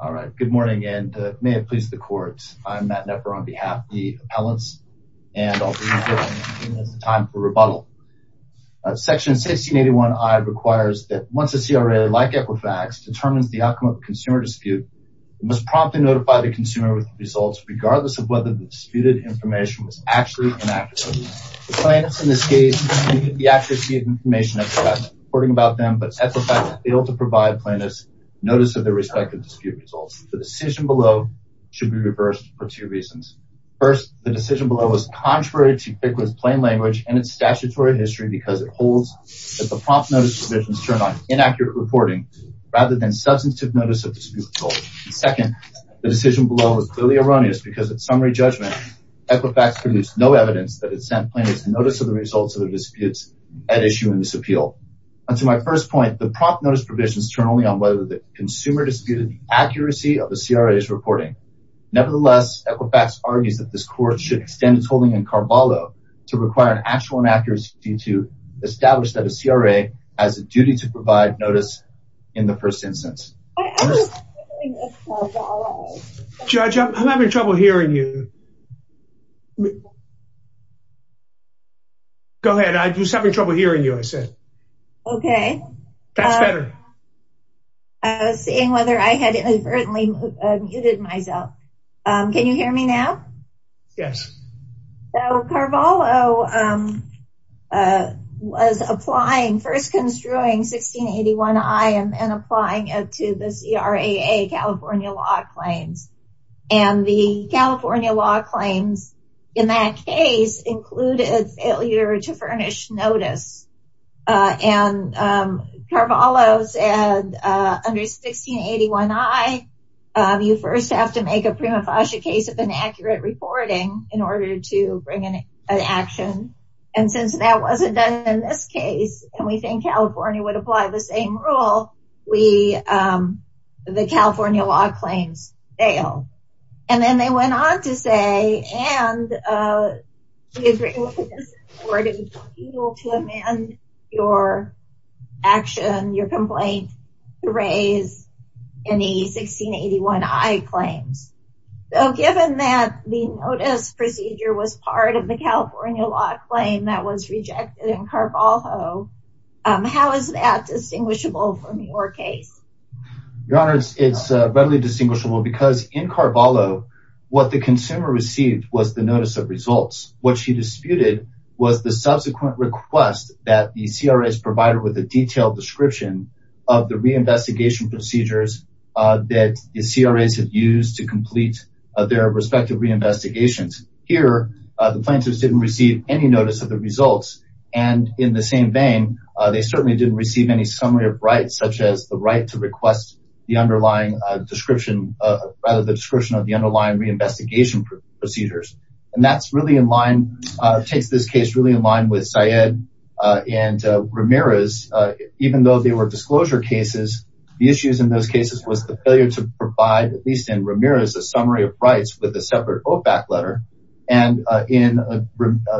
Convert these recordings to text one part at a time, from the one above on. Section 1681 I requires that once a CRA, like Equifax, determines the outcome of a consumer dispute, it must promptly notify the consumer with the results, regardless of whether the disputed information was actually an act of the plaintiff. The plaintiffs, in this case, did not need the accuracy of the information of Equifax reporting about them, but Equifax failed to provide plaintiffs notice of their respective dispute results. The decision below should be reversed for two reasons. First, the decision below was contrary to Equifax's plain language and its statutory history because it holds that the prompt notice provisions turn on inaccurate reporting rather than substantive notice of dispute results. Second, the decision below was clearly erroneous because at summary judgment, Equifax produced no evidence that it sent plaintiffs notice of the results of the disputes at issue in this appeal. And to my first point, the prompt notice provisions turn only on whether the consumer disputed the accuracy of the CRA's reporting. Nevertheless, Equifax argues that this court should extend its holding in Carvalho to require an actual inaccuracy to establish that a CRA has a duty to provide notice in the first instance. Judge, I'm having trouble hearing you. Go ahead. I was having trouble hearing you, I said. Okay. That's better. I was seeing whether I had inadvertently muted myself. Can you hear me now? Yes. So, Carvalho was applying, first construing 1681I and applying it to the CRAA California law claims. And the California law claims in that case included failure to furnish notice. And Carvalho's under 1681I, you first have to make a prima facie case of inaccurate reporting in order to bring an action. And since that wasn't done in this case, and we think California would apply the same rule, the California law claims fail. And then they went on to say, and we agree with the court to amend your action, your complaint to raise any 1681I claims. So, given that the notice procedure was part of the California law claim that was rejected in Carvalho, how is that distinguishable from your case? Your Honor, it's readily distinguishable because in Carvalho, what the consumer received was the notice of results. What she disputed was the subsequent request that the CRAs provided with a detailed description of the reinvestigation procedures that the CRAs have used to complete their respective reinvestigations. Here, the plaintiffs didn't receive any notice of the results. And in the same vein, they certainly didn't receive any summary of rights, such as the right to request the underlying description, rather the description of the underlying reinvestigation procedures. And that's really in line, takes this case really in line with Syed and Ramirez. Even though they were disclosure cases, the issues in those cases was the failure to provide, at least in Ramirez, a summary of rights with a separate OFAC letter. And in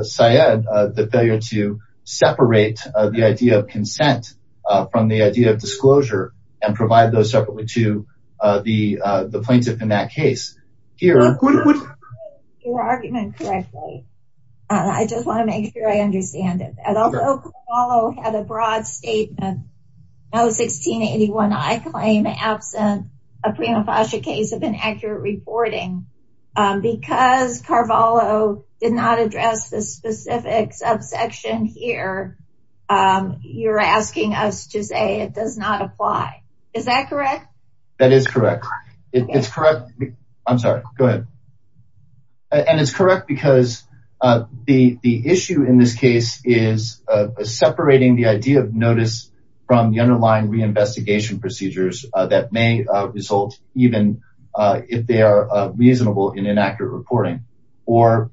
Syed, the failure to separate the idea of consent from the idea of disclosure and provide those separately to the plaintiff in that case. If I understand your argument correctly, I just want to make sure I understand it. Although Carvalho had a broad statement, No. 1681, I claim, absent a prima facie case of inaccurate reporting. Because Carvalho did not address the specific subsection here, you're asking us to say it does not apply. Is that correct? That is correct. It's correct. I'm sorry. Go ahead. And it's correct because the issue in this case is separating the idea of notice from the underlying reinvestigation procedures that may result even if they are reasonable in inaccurate reporting. The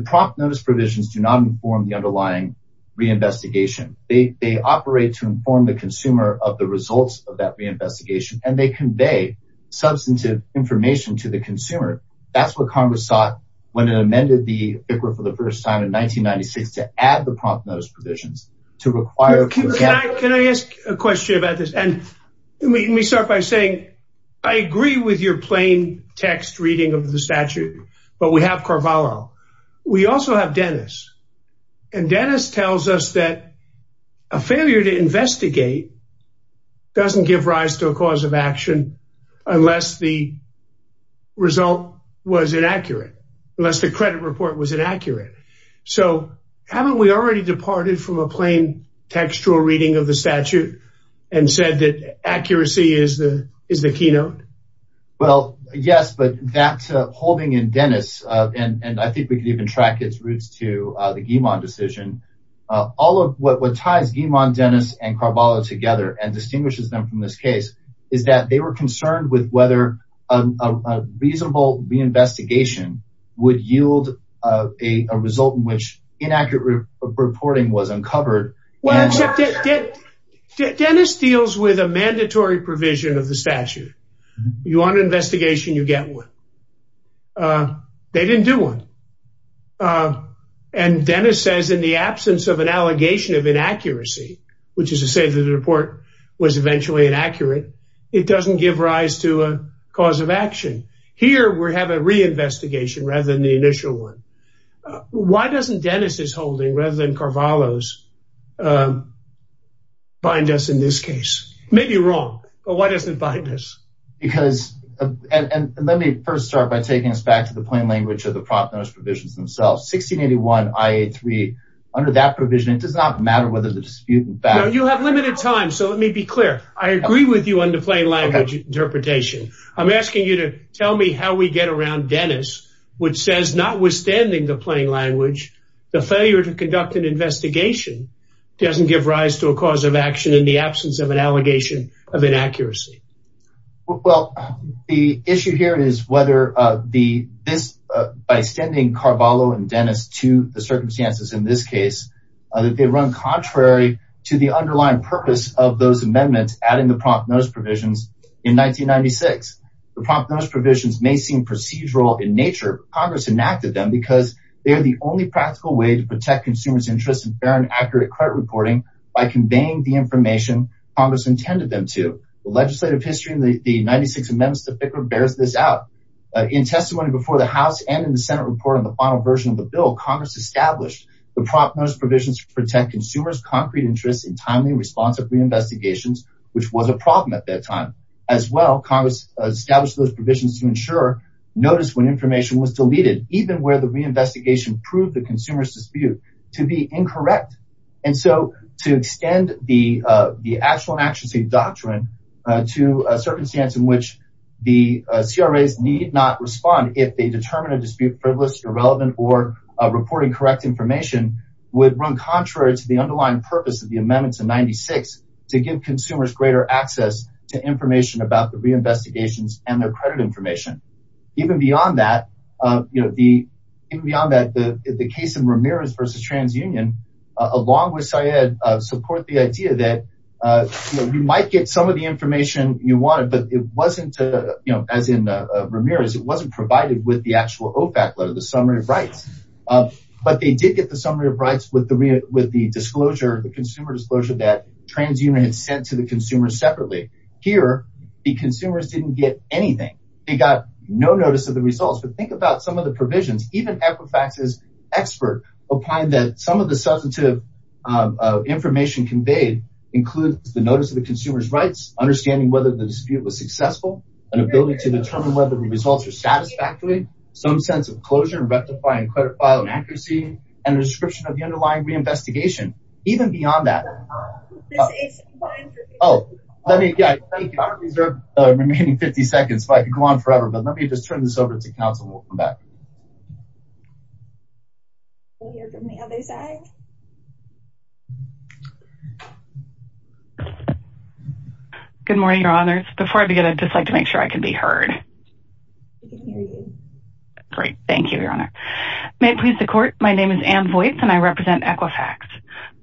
prompt notice provisions do not inform the underlying reinvestigation. They operate to inform the consumer of the results of that reinvestigation and they convey substantive information to the consumer. That's what Congress sought when it amended the FICRA for the first time in 1996 to add the prompt notice provisions to require. Can I ask a question about this? And let me start by saying I agree with your plain text reading of the statute. But we have Carvalho. We also have Dennis. And Dennis tells us that a failure to investigate doesn't give rise to a cause of action unless the result was inaccurate, unless the credit report was inaccurate. So haven't we already departed from a plain textual reading of the statute and said that accuracy is the keynote? Well, yes, but that's holding in Dennis. And I think we could even track its roots to the Guimon decision. All of what ties Guimon, Dennis and Carvalho together and distinguishes them from this case is that they were concerned with whether a reasonable reinvestigation would yield a result in which inaccurate reporting was uncovered. Well, Dennis deals with a mandatory provision of the statute. You want an investigation, you get one. They didn't do one. And Dennis says in the absence of an allegation of inaccuracy, which is to say that the report was eventually inaccurate, it doesn't give rise to a cause of action. Here we have a reinvestigation rather than the initial one. Why doesn't Dennis's holding rather than Carvalho's bind us in this case? Maybe wrong, but why doesn't it bind us? And let me first start by taking us back to the plain language of the prop notice provisions themselves. 1681 IA3, under that provision, it does not matter whether the dispute is valid. Well, the issue here is whether the this by sending Carvalho and Dennis to the circumstances in this case that they run contrary to the underlying purpose of those amendments adding the prompt notice provisions in 1996. The prompt notice provisions may seem procedural in nature. Congress enacted them because they are the only practical way to protect consumers' interest in fair and accurate credit reporting by conveying the information Congress intended them to. The legislative history in the 96 amendments to FICA bears this out. In testimony before the House and in the Senate report on the final version of the bill, Congress established the prompt notice provisions to protect consumers' concrete interest in timely and responsive reinvestigations, which was a problem at that time. As well, Congress established those provisions to ensure notice when information was deleted, even where the reinvestigation proved the consumer's dispute to be incorrect. And so, to extend the actual and action-safe doctrine to a circumstance in which the CRAs need not respond if they determine a dispute privilege, irrelevant, or reporting correct information would run contrary to the underlying purpose of the amendments in 96 to give consumers greater access to information about the reinvestigations and their credit information. Even beyond that, the case of Ramirez v. TransUnion, along with Syed, support the idea that you might get some of the information you wanted, but it wasn't, as in Ramirez, it wasn't provided with the actual OFAC letter, the summary of rights. But they did get the summary of rights with the disclosure, the consumer disclosure that TransUnion had sent to the consumer separately. Here, the consumers didn't get anything. They got no notice of the results. But think about some of the provisions. Even Equifax's expert opined that some of the substantive information conveyed includes the notice of the consumer's rights, understanding whether the dispute was successful, an ability to determine whether the results are satisfactory, some sense of closure and rectifying credit file inaccuracy, and a description of the underlying reinvestigation. Even beyond that, I don't deserve the remaining 50 seconds, but I could go on forever, but let me just turn this over to counsel and we'll come back. Good morning, Your Honors. Before I begin, I'd just like to make sure I can be heard. We can hear you. Great. Thank you, Your Honor. May it please the court, my name is Ann Voights and I represent Equifax.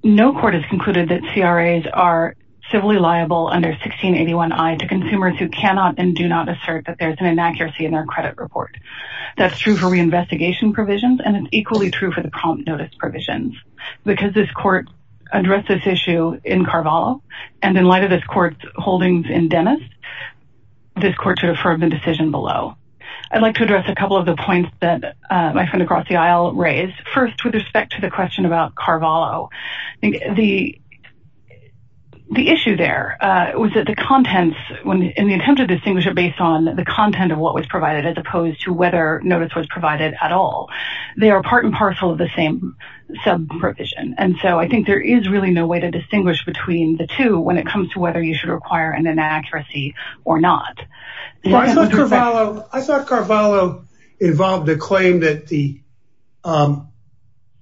No court has concluded that CRAs are civilly liable under 1681I to consumers who cannot and do not assert that there's an inaccuracy in their credit report. That's true for reinvestigation provisions, and it's equally true for the prompt notice provisions. Because this court addressed this issue in Carvalho, and in light of this court's holdings in Dennis, this court should affirm the decision below. I'd like to address a couple of the points that my friend across the aisle raised. First, with respect to the question about Carvalho, the issue there was that the contents in the attempt to distinguish it based on the content of what was provided as opposed to whether notice was provided at all. They are part and parcel of the same sub-provision, and so I think there is really no way to distinguish between the two when it comes to whether you should require an inaccuracy or not. I thought Carvalho involved a claim that the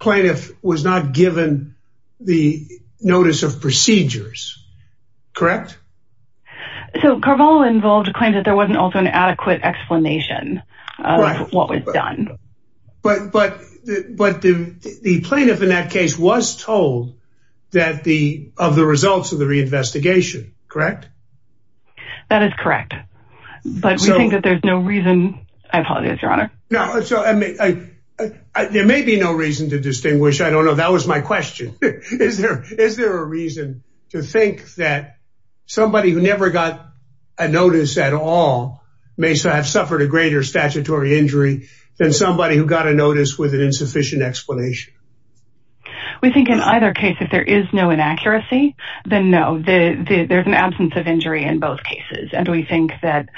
plaintiff was not given the notice of procedures, correct? So Carvalho involved a claim that there wasn't also an adequate explanation of what was done. But the plaintiff in that case was told of the results of the reinvestigation, correct? That is correct. But we think that there's no reason... I apologize, Your Honor. There may be no reason to distinguish. I don't know. That was my question. Is there a reason to think that somebody who never got a notice at all may have suffered a greater statutory injury than somebody who got a notice with an insufficient explanation? We think in either case, if there is no inaccuracy, then no. There's an absence of injury in both cases. And we think that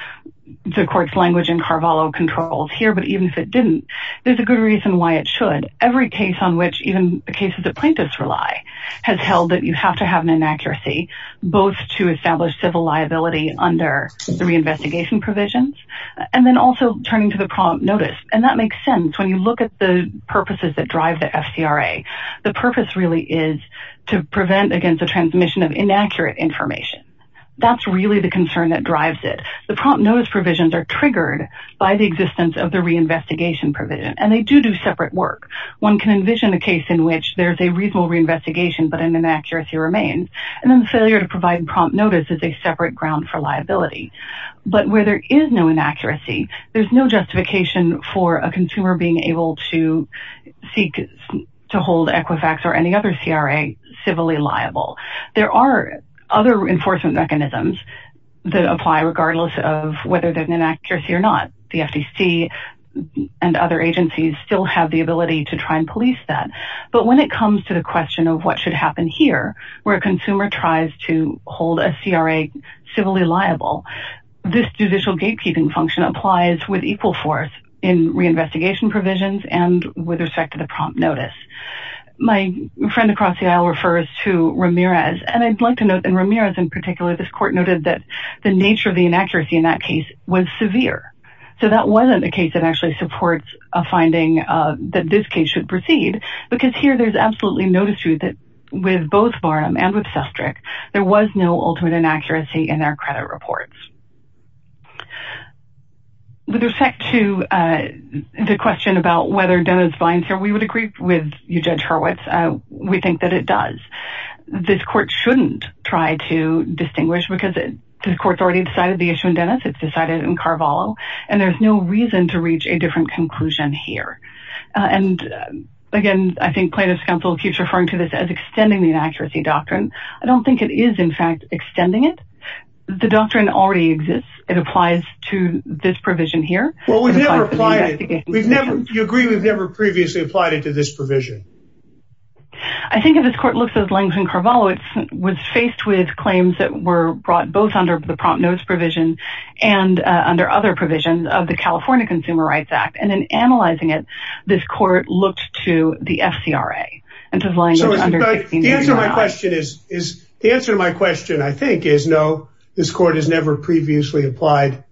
the court's language in Carvalho controls here, but even if it didn't, there's a good reason why it should. Every case on which even the cases that plaintiffs rely has held that you have to have an inaccuracy both to establish civil liability under the reinvestigation provisions and then also turning to the prompt notice. And that makes sense when you look at the purposes that drive the FCRA. The purpose really is to prevent against the transmission of inaccurate information. That's really the concern that drives it. The prompt notice provisions are triggered by the existence of the reinvestigation provision, and they do do separate work. One can envision a case in which there's a reasonable reinvestigation, but an inaccuracy remains. And then the failure to provide prompt notice is a separate ground for liability. But where there is no inaccuracy, there's no justification for a consumer being able to seek to hold Equifax or any other CRA civilly liable. There are other enforcement mechanisms that apply regardless of whether there's an inaccuracy or not. The FTC and other agencies still have the ability to try and police that. But when it comes to the question of what should happen here, where a consumer tries to hold a CRA civilly liable, this judicial gatekeeping function applies with equal force in reinvestigation provisions and with respect to the prompt notice. My friend across the aisle refers to Ramirez, and I'd like to note that Ramirez in particular, this court noted that the nature of the inaccuracy in that case was severe. So that wasn't a case that actually supports a finding that this case should proceed. Because here there's absolutely no dispute that with both Barnum and with Sestrick, there was no ultimate inaccuracy in their credit reports. With respect to the question about whether Dennis Vines here, we would agree with you, Judge Hurwitz. We think that it does. This court shouldn't try to distinguish because the court's already decided the issue in Dennis. It's decided in Carvalho, and there's no reason to reach a different conclusion here. And again, I think plaintiff's counsel keeps referring to this as extending the inaccuracy doctrine. I don't think it is, in fact, extending it. The doctrine already exists. It applies to this provision here. Well, we've never applied it. You agree we've never previously applied it to this provision? I think if this court looks at language in Carvalho, it was faced with claims that were brought both under the prompt notice provision and under other provisions of the California Consumer Rights Act. And in analyzing it, this court looked to the FCRA. So the answer to my question is, no, this court has never previously applied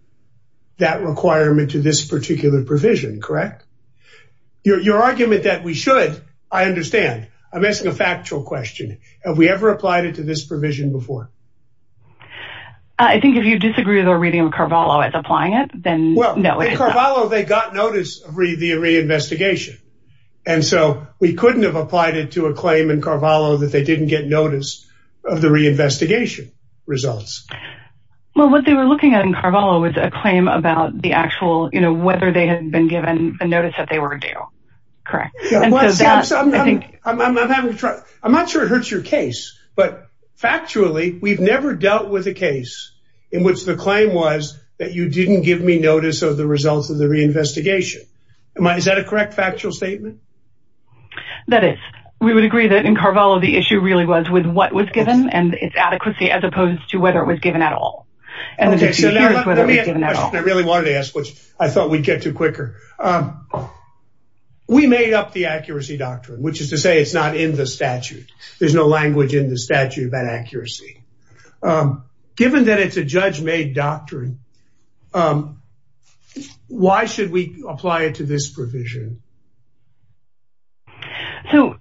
that requirement to this particular provision, correct? Your argument that we should, I understand. I'm asking a factual question. Have we ever applied it to this provision before? I think if you disagree with our reading of Carvalho as applying it, then no. In Carvalho, they got notice of the reinvestigation. And so we couldn't have applied it to a claim in Carvalho that they didn't get notice of the reinvestigation results. Well, what they were looking at in Carvalho was a claim about the actual, you know, whether they had been given a notice that they were due, correct? I'm not sure it hurts your case, but factually, we've never dealt with a case in which the claim was that you didn't give me notice of the results of the reinvestigation. Is that a correct factual statement? That is. We would agree that in Carvalho, the issue really was with what was given and its adequacy as opposed to whether it was given at all. Let me ask a question I really wanted to ask, which I thought we'd get to quicker. We made up the accuracy doctrine, which is to say it's not in the statute. There's no language in the statute about accuracy. Given that it's a judge-made doctrine, why should we apply it to this provision? So,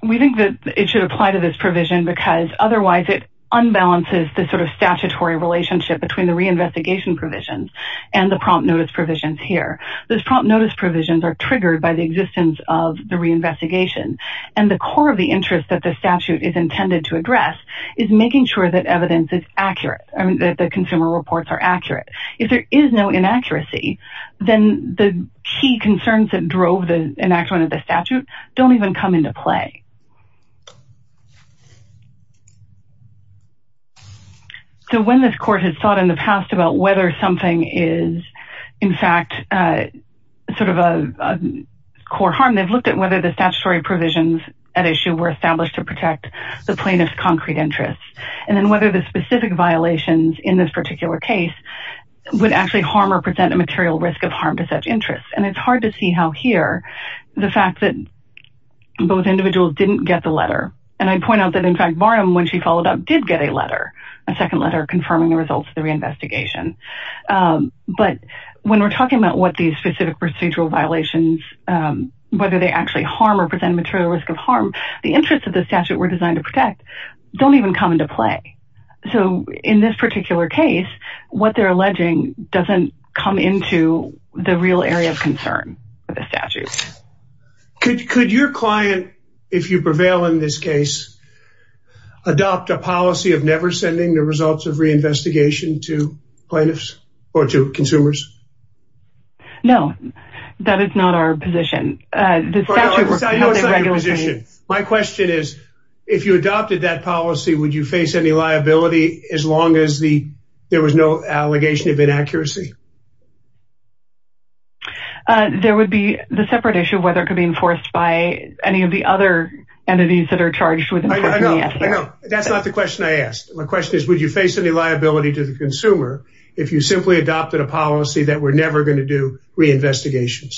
we think that it should apply to this provision because otherwise it unbalances the sort of statutory relationship between the reinvestigation provisions and the prompt notice provisions here. Those prompt notice provisions are triggered by the existence of the reinvestigation. And the core of the interest that the statute is intended to address is making sure that evidence is accurate, that the consumer reports are accurate. If there is no inaccuracy, then the key concerns that drove the enactment of the statute don't even come into play. So, when this court has thought in the past about whether something is, in fact, sort of a core harm, they've looked at whether the statutory provisions at issue were established to protect the plaintiff's concrete interests. And then whether the specific violations in this particular case would actually harm or present a material risk of harm to such interests. And it's hard to see how here, the fact that both individuals didn't get the letter. And I'd point out that, in fact, Barham, when she followed up, did get a letter, a second letter confirming the results of the reinvestigation. But when we're talking about what these specific procedural violations, whether they actually harm or present a material risk of harm, the interests of the statute we're designed to protect don't even come into play. So, in this particular case, what they're alleging doesn't come into the real area of concern of the statute. Could your client, if you prevail in this case, adopt a policy of never sending the results of reinvestigation to plaintiffs or to consumers? No, that is not our position. No, it's not your position. My question is, if you adopted that policy, would you face any liability as long as there was no allegation of inaccuracy? There would be the separate issue of whether it could be enforced by any of the other entities that are charged with enforcing the statute. I know, I know. That's not the question I asked. My question is, would you face any liability to the consumer if you simply adopted a policy that we're never going to do reinvestigations?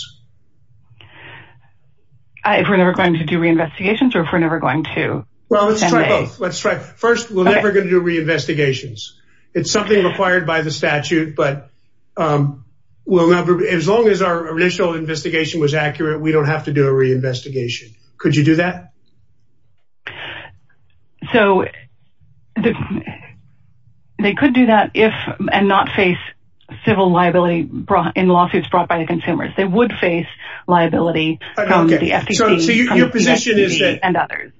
If we're never going to do reinvestigations or if we're never going to? Well, let's try both. First, we're never going to do reinvestigations. It's something required by the statute, but as long as our initial investigation was accurate, we don't have to do a reinvestigation. Could you do that? So, they could do that if and not face civil liability in lawsuits brought by the consumers. They would face liability from the FTC and others.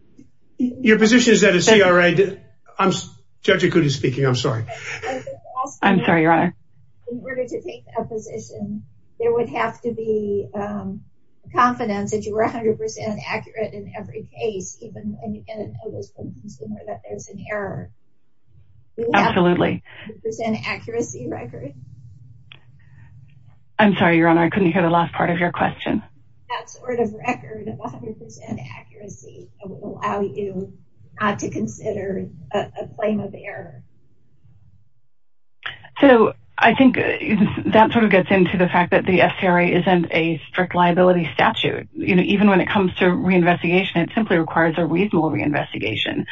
Your position is that a CRA... Judge Ikuti is speaking, I'm sorry. I'm sorry, Your Honor. In order to take a position, there would have to be confidence that you were 100% accurate in every case, even in an illicit consumer that there's an error. Absolutely. We would have to present an accuracy record. I'm sorry, Your Honor. I couldn't hear the last part of your question. That sort of record of 100% accuracy would allow you not to consider a claim of error. So, I think that sort of gets into the fact that the CRA isn't a strict liability statute. Even when it comes to reinvestigation, it simply requires a reasonable reinvestigation.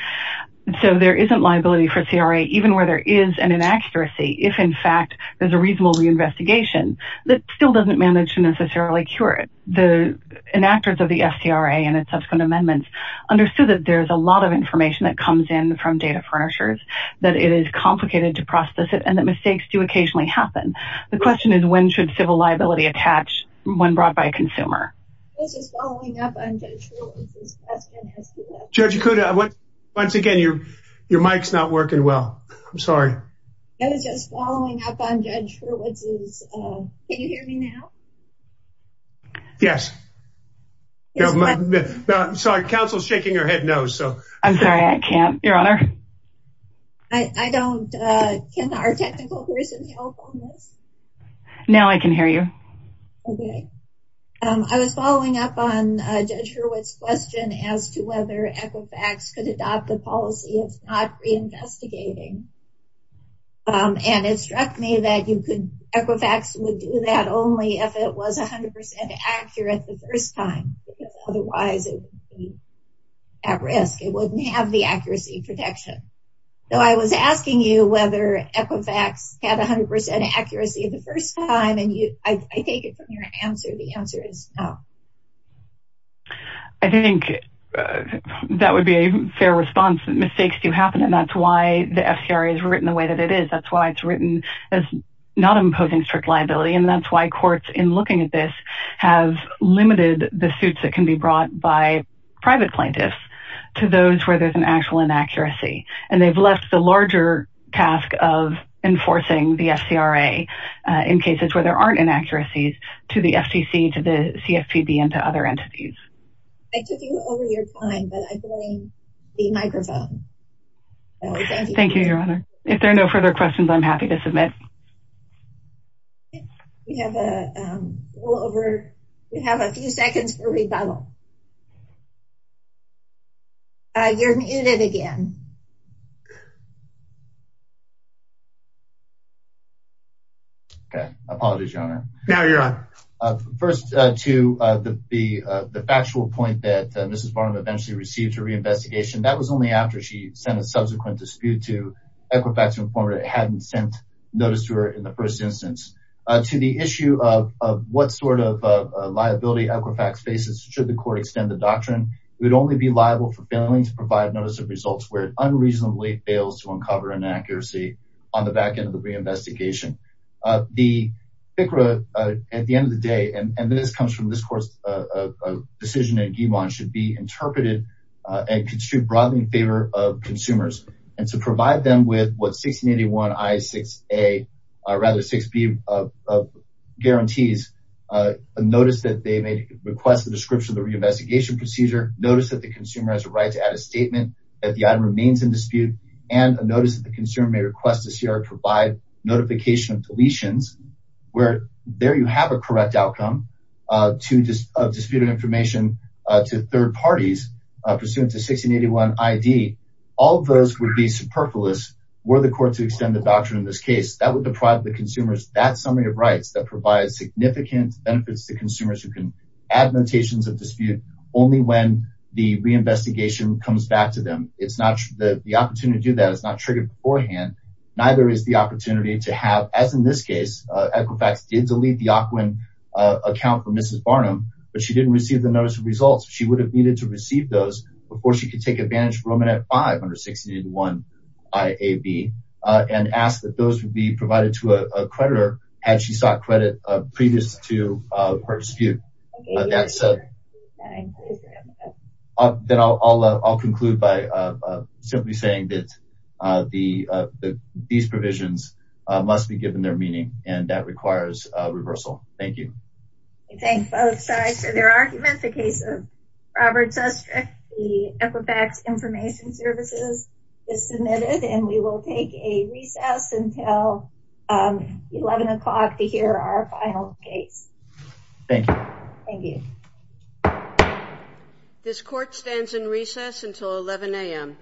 So, there isn't liability for CRA, even where there is an inaccuracy. If, in fact, there's a reasonable reinvestigation, it still doesn't manage to necessarily cure it. The enactors of the SCRA and its subsequent amendments understood that there's a lot of information that comes in from data furnishers, that it is complicated to process it, and that mistakes do occasionally happen. The question is, when should civil liability attach when brought by a consumer? This is following up on Judge Ruhle's question. Judge Ikuda, once again, your mic's not working well. I'm sorry. I was just following up on Judge Hurwitz's... Can you hear me now? Yes. I'm sorry, counsel's shaking her head no. I'm sorry, I can't, Your Honor. I don't... Can our technical person help on this? Now I can hear you. Okay. I was following up on Judge Hurwitz's question as to whether Equifax could adopt a policy of not reinvestigating. And it struck me that Equifax would do that only if it was 100% accurate the first time. Otherwise, it would be at risk. It wouldn't have the accuracy protection. So I was asking you whether Equifax had 100% accuracy the first time, and I take it from your answer, the answer is no. I think that would be a fair response. Mistakes do happen, and that's why the FCRA is written the way that it is. That's why it's written as not imposing strict liability, and that's why courts, in looking at this, have limited the suits that can be brought by private plaintiffs to those where there's an actual inaccuracy. And they've left the larger task of enforcing the FCRA in cases where there aren't inaccuracies to the FTC, to the CFPB, and to other entities. I took you over your time, but I blame the microphone. Thank you, Your Honor. If there are no further questions, I'm happy to submit. We have a few seconds for rebuttal. You're muted again. Okay. Apologies, Your Honor. No, Your Honor. First, to the factual point that Mrs. Barnum eventually received her reinvestigation. That was only after she sent a subsequent dispute to Equifax informer that hadn't sent notice to her in the first instance. To the issue of what sort of liability Equifax faces, should the court extend the doctrine, it would only be liable for failing to provide notice of results where it unreasonably fails to uncover an inaccuracy on the back end of the reinvestigation. The FCRA, at the end of the day, and this comes from this court's decision in Guillemot, should be interpreted and construed broadly in favor of consumers. And to provide them with what 1681 I6A, or rather 6B of guarantees, a notice that they may request the description of the reinvestigation procedure, notice that the consumer has a right to add a statement that the item remains in dispute, and a notice that the consumer may request the CR provide notification of deletions, where there you have a correct outcome of disputed information to third parties pursuant to 1681 ID. All of those would be superfluous were the court to extend the doctrine in this case. That would deprive the consumers that summary of rights that provides significant benefits to consumers who can add notations of dispute only when the reinvestigation comes back to them. The opportunity to do that is not triggered beforehand. Neither is the opportunity to have, as in this case, Equifax did delete the AQUIN account from Mrs. Barnum, but she didn't receive the notice of results. She would have needed to receive those before she could take advantage of Romanet 5 under 1681 IAB, and ask that those would be provided to a creditor had she sought credit previous to her dispute. Then I'll conclude by simply saying that these provisions must be given their meaning, and that requires reversal. Thank you. I thank both sides for their arguments. The case of Robert Susskirk v. Equifax Information Services is submitted, and we will take a recess until 11 o'clock to hear our final case. Thank you. Thank you. This court stands in recess until 11 a.m.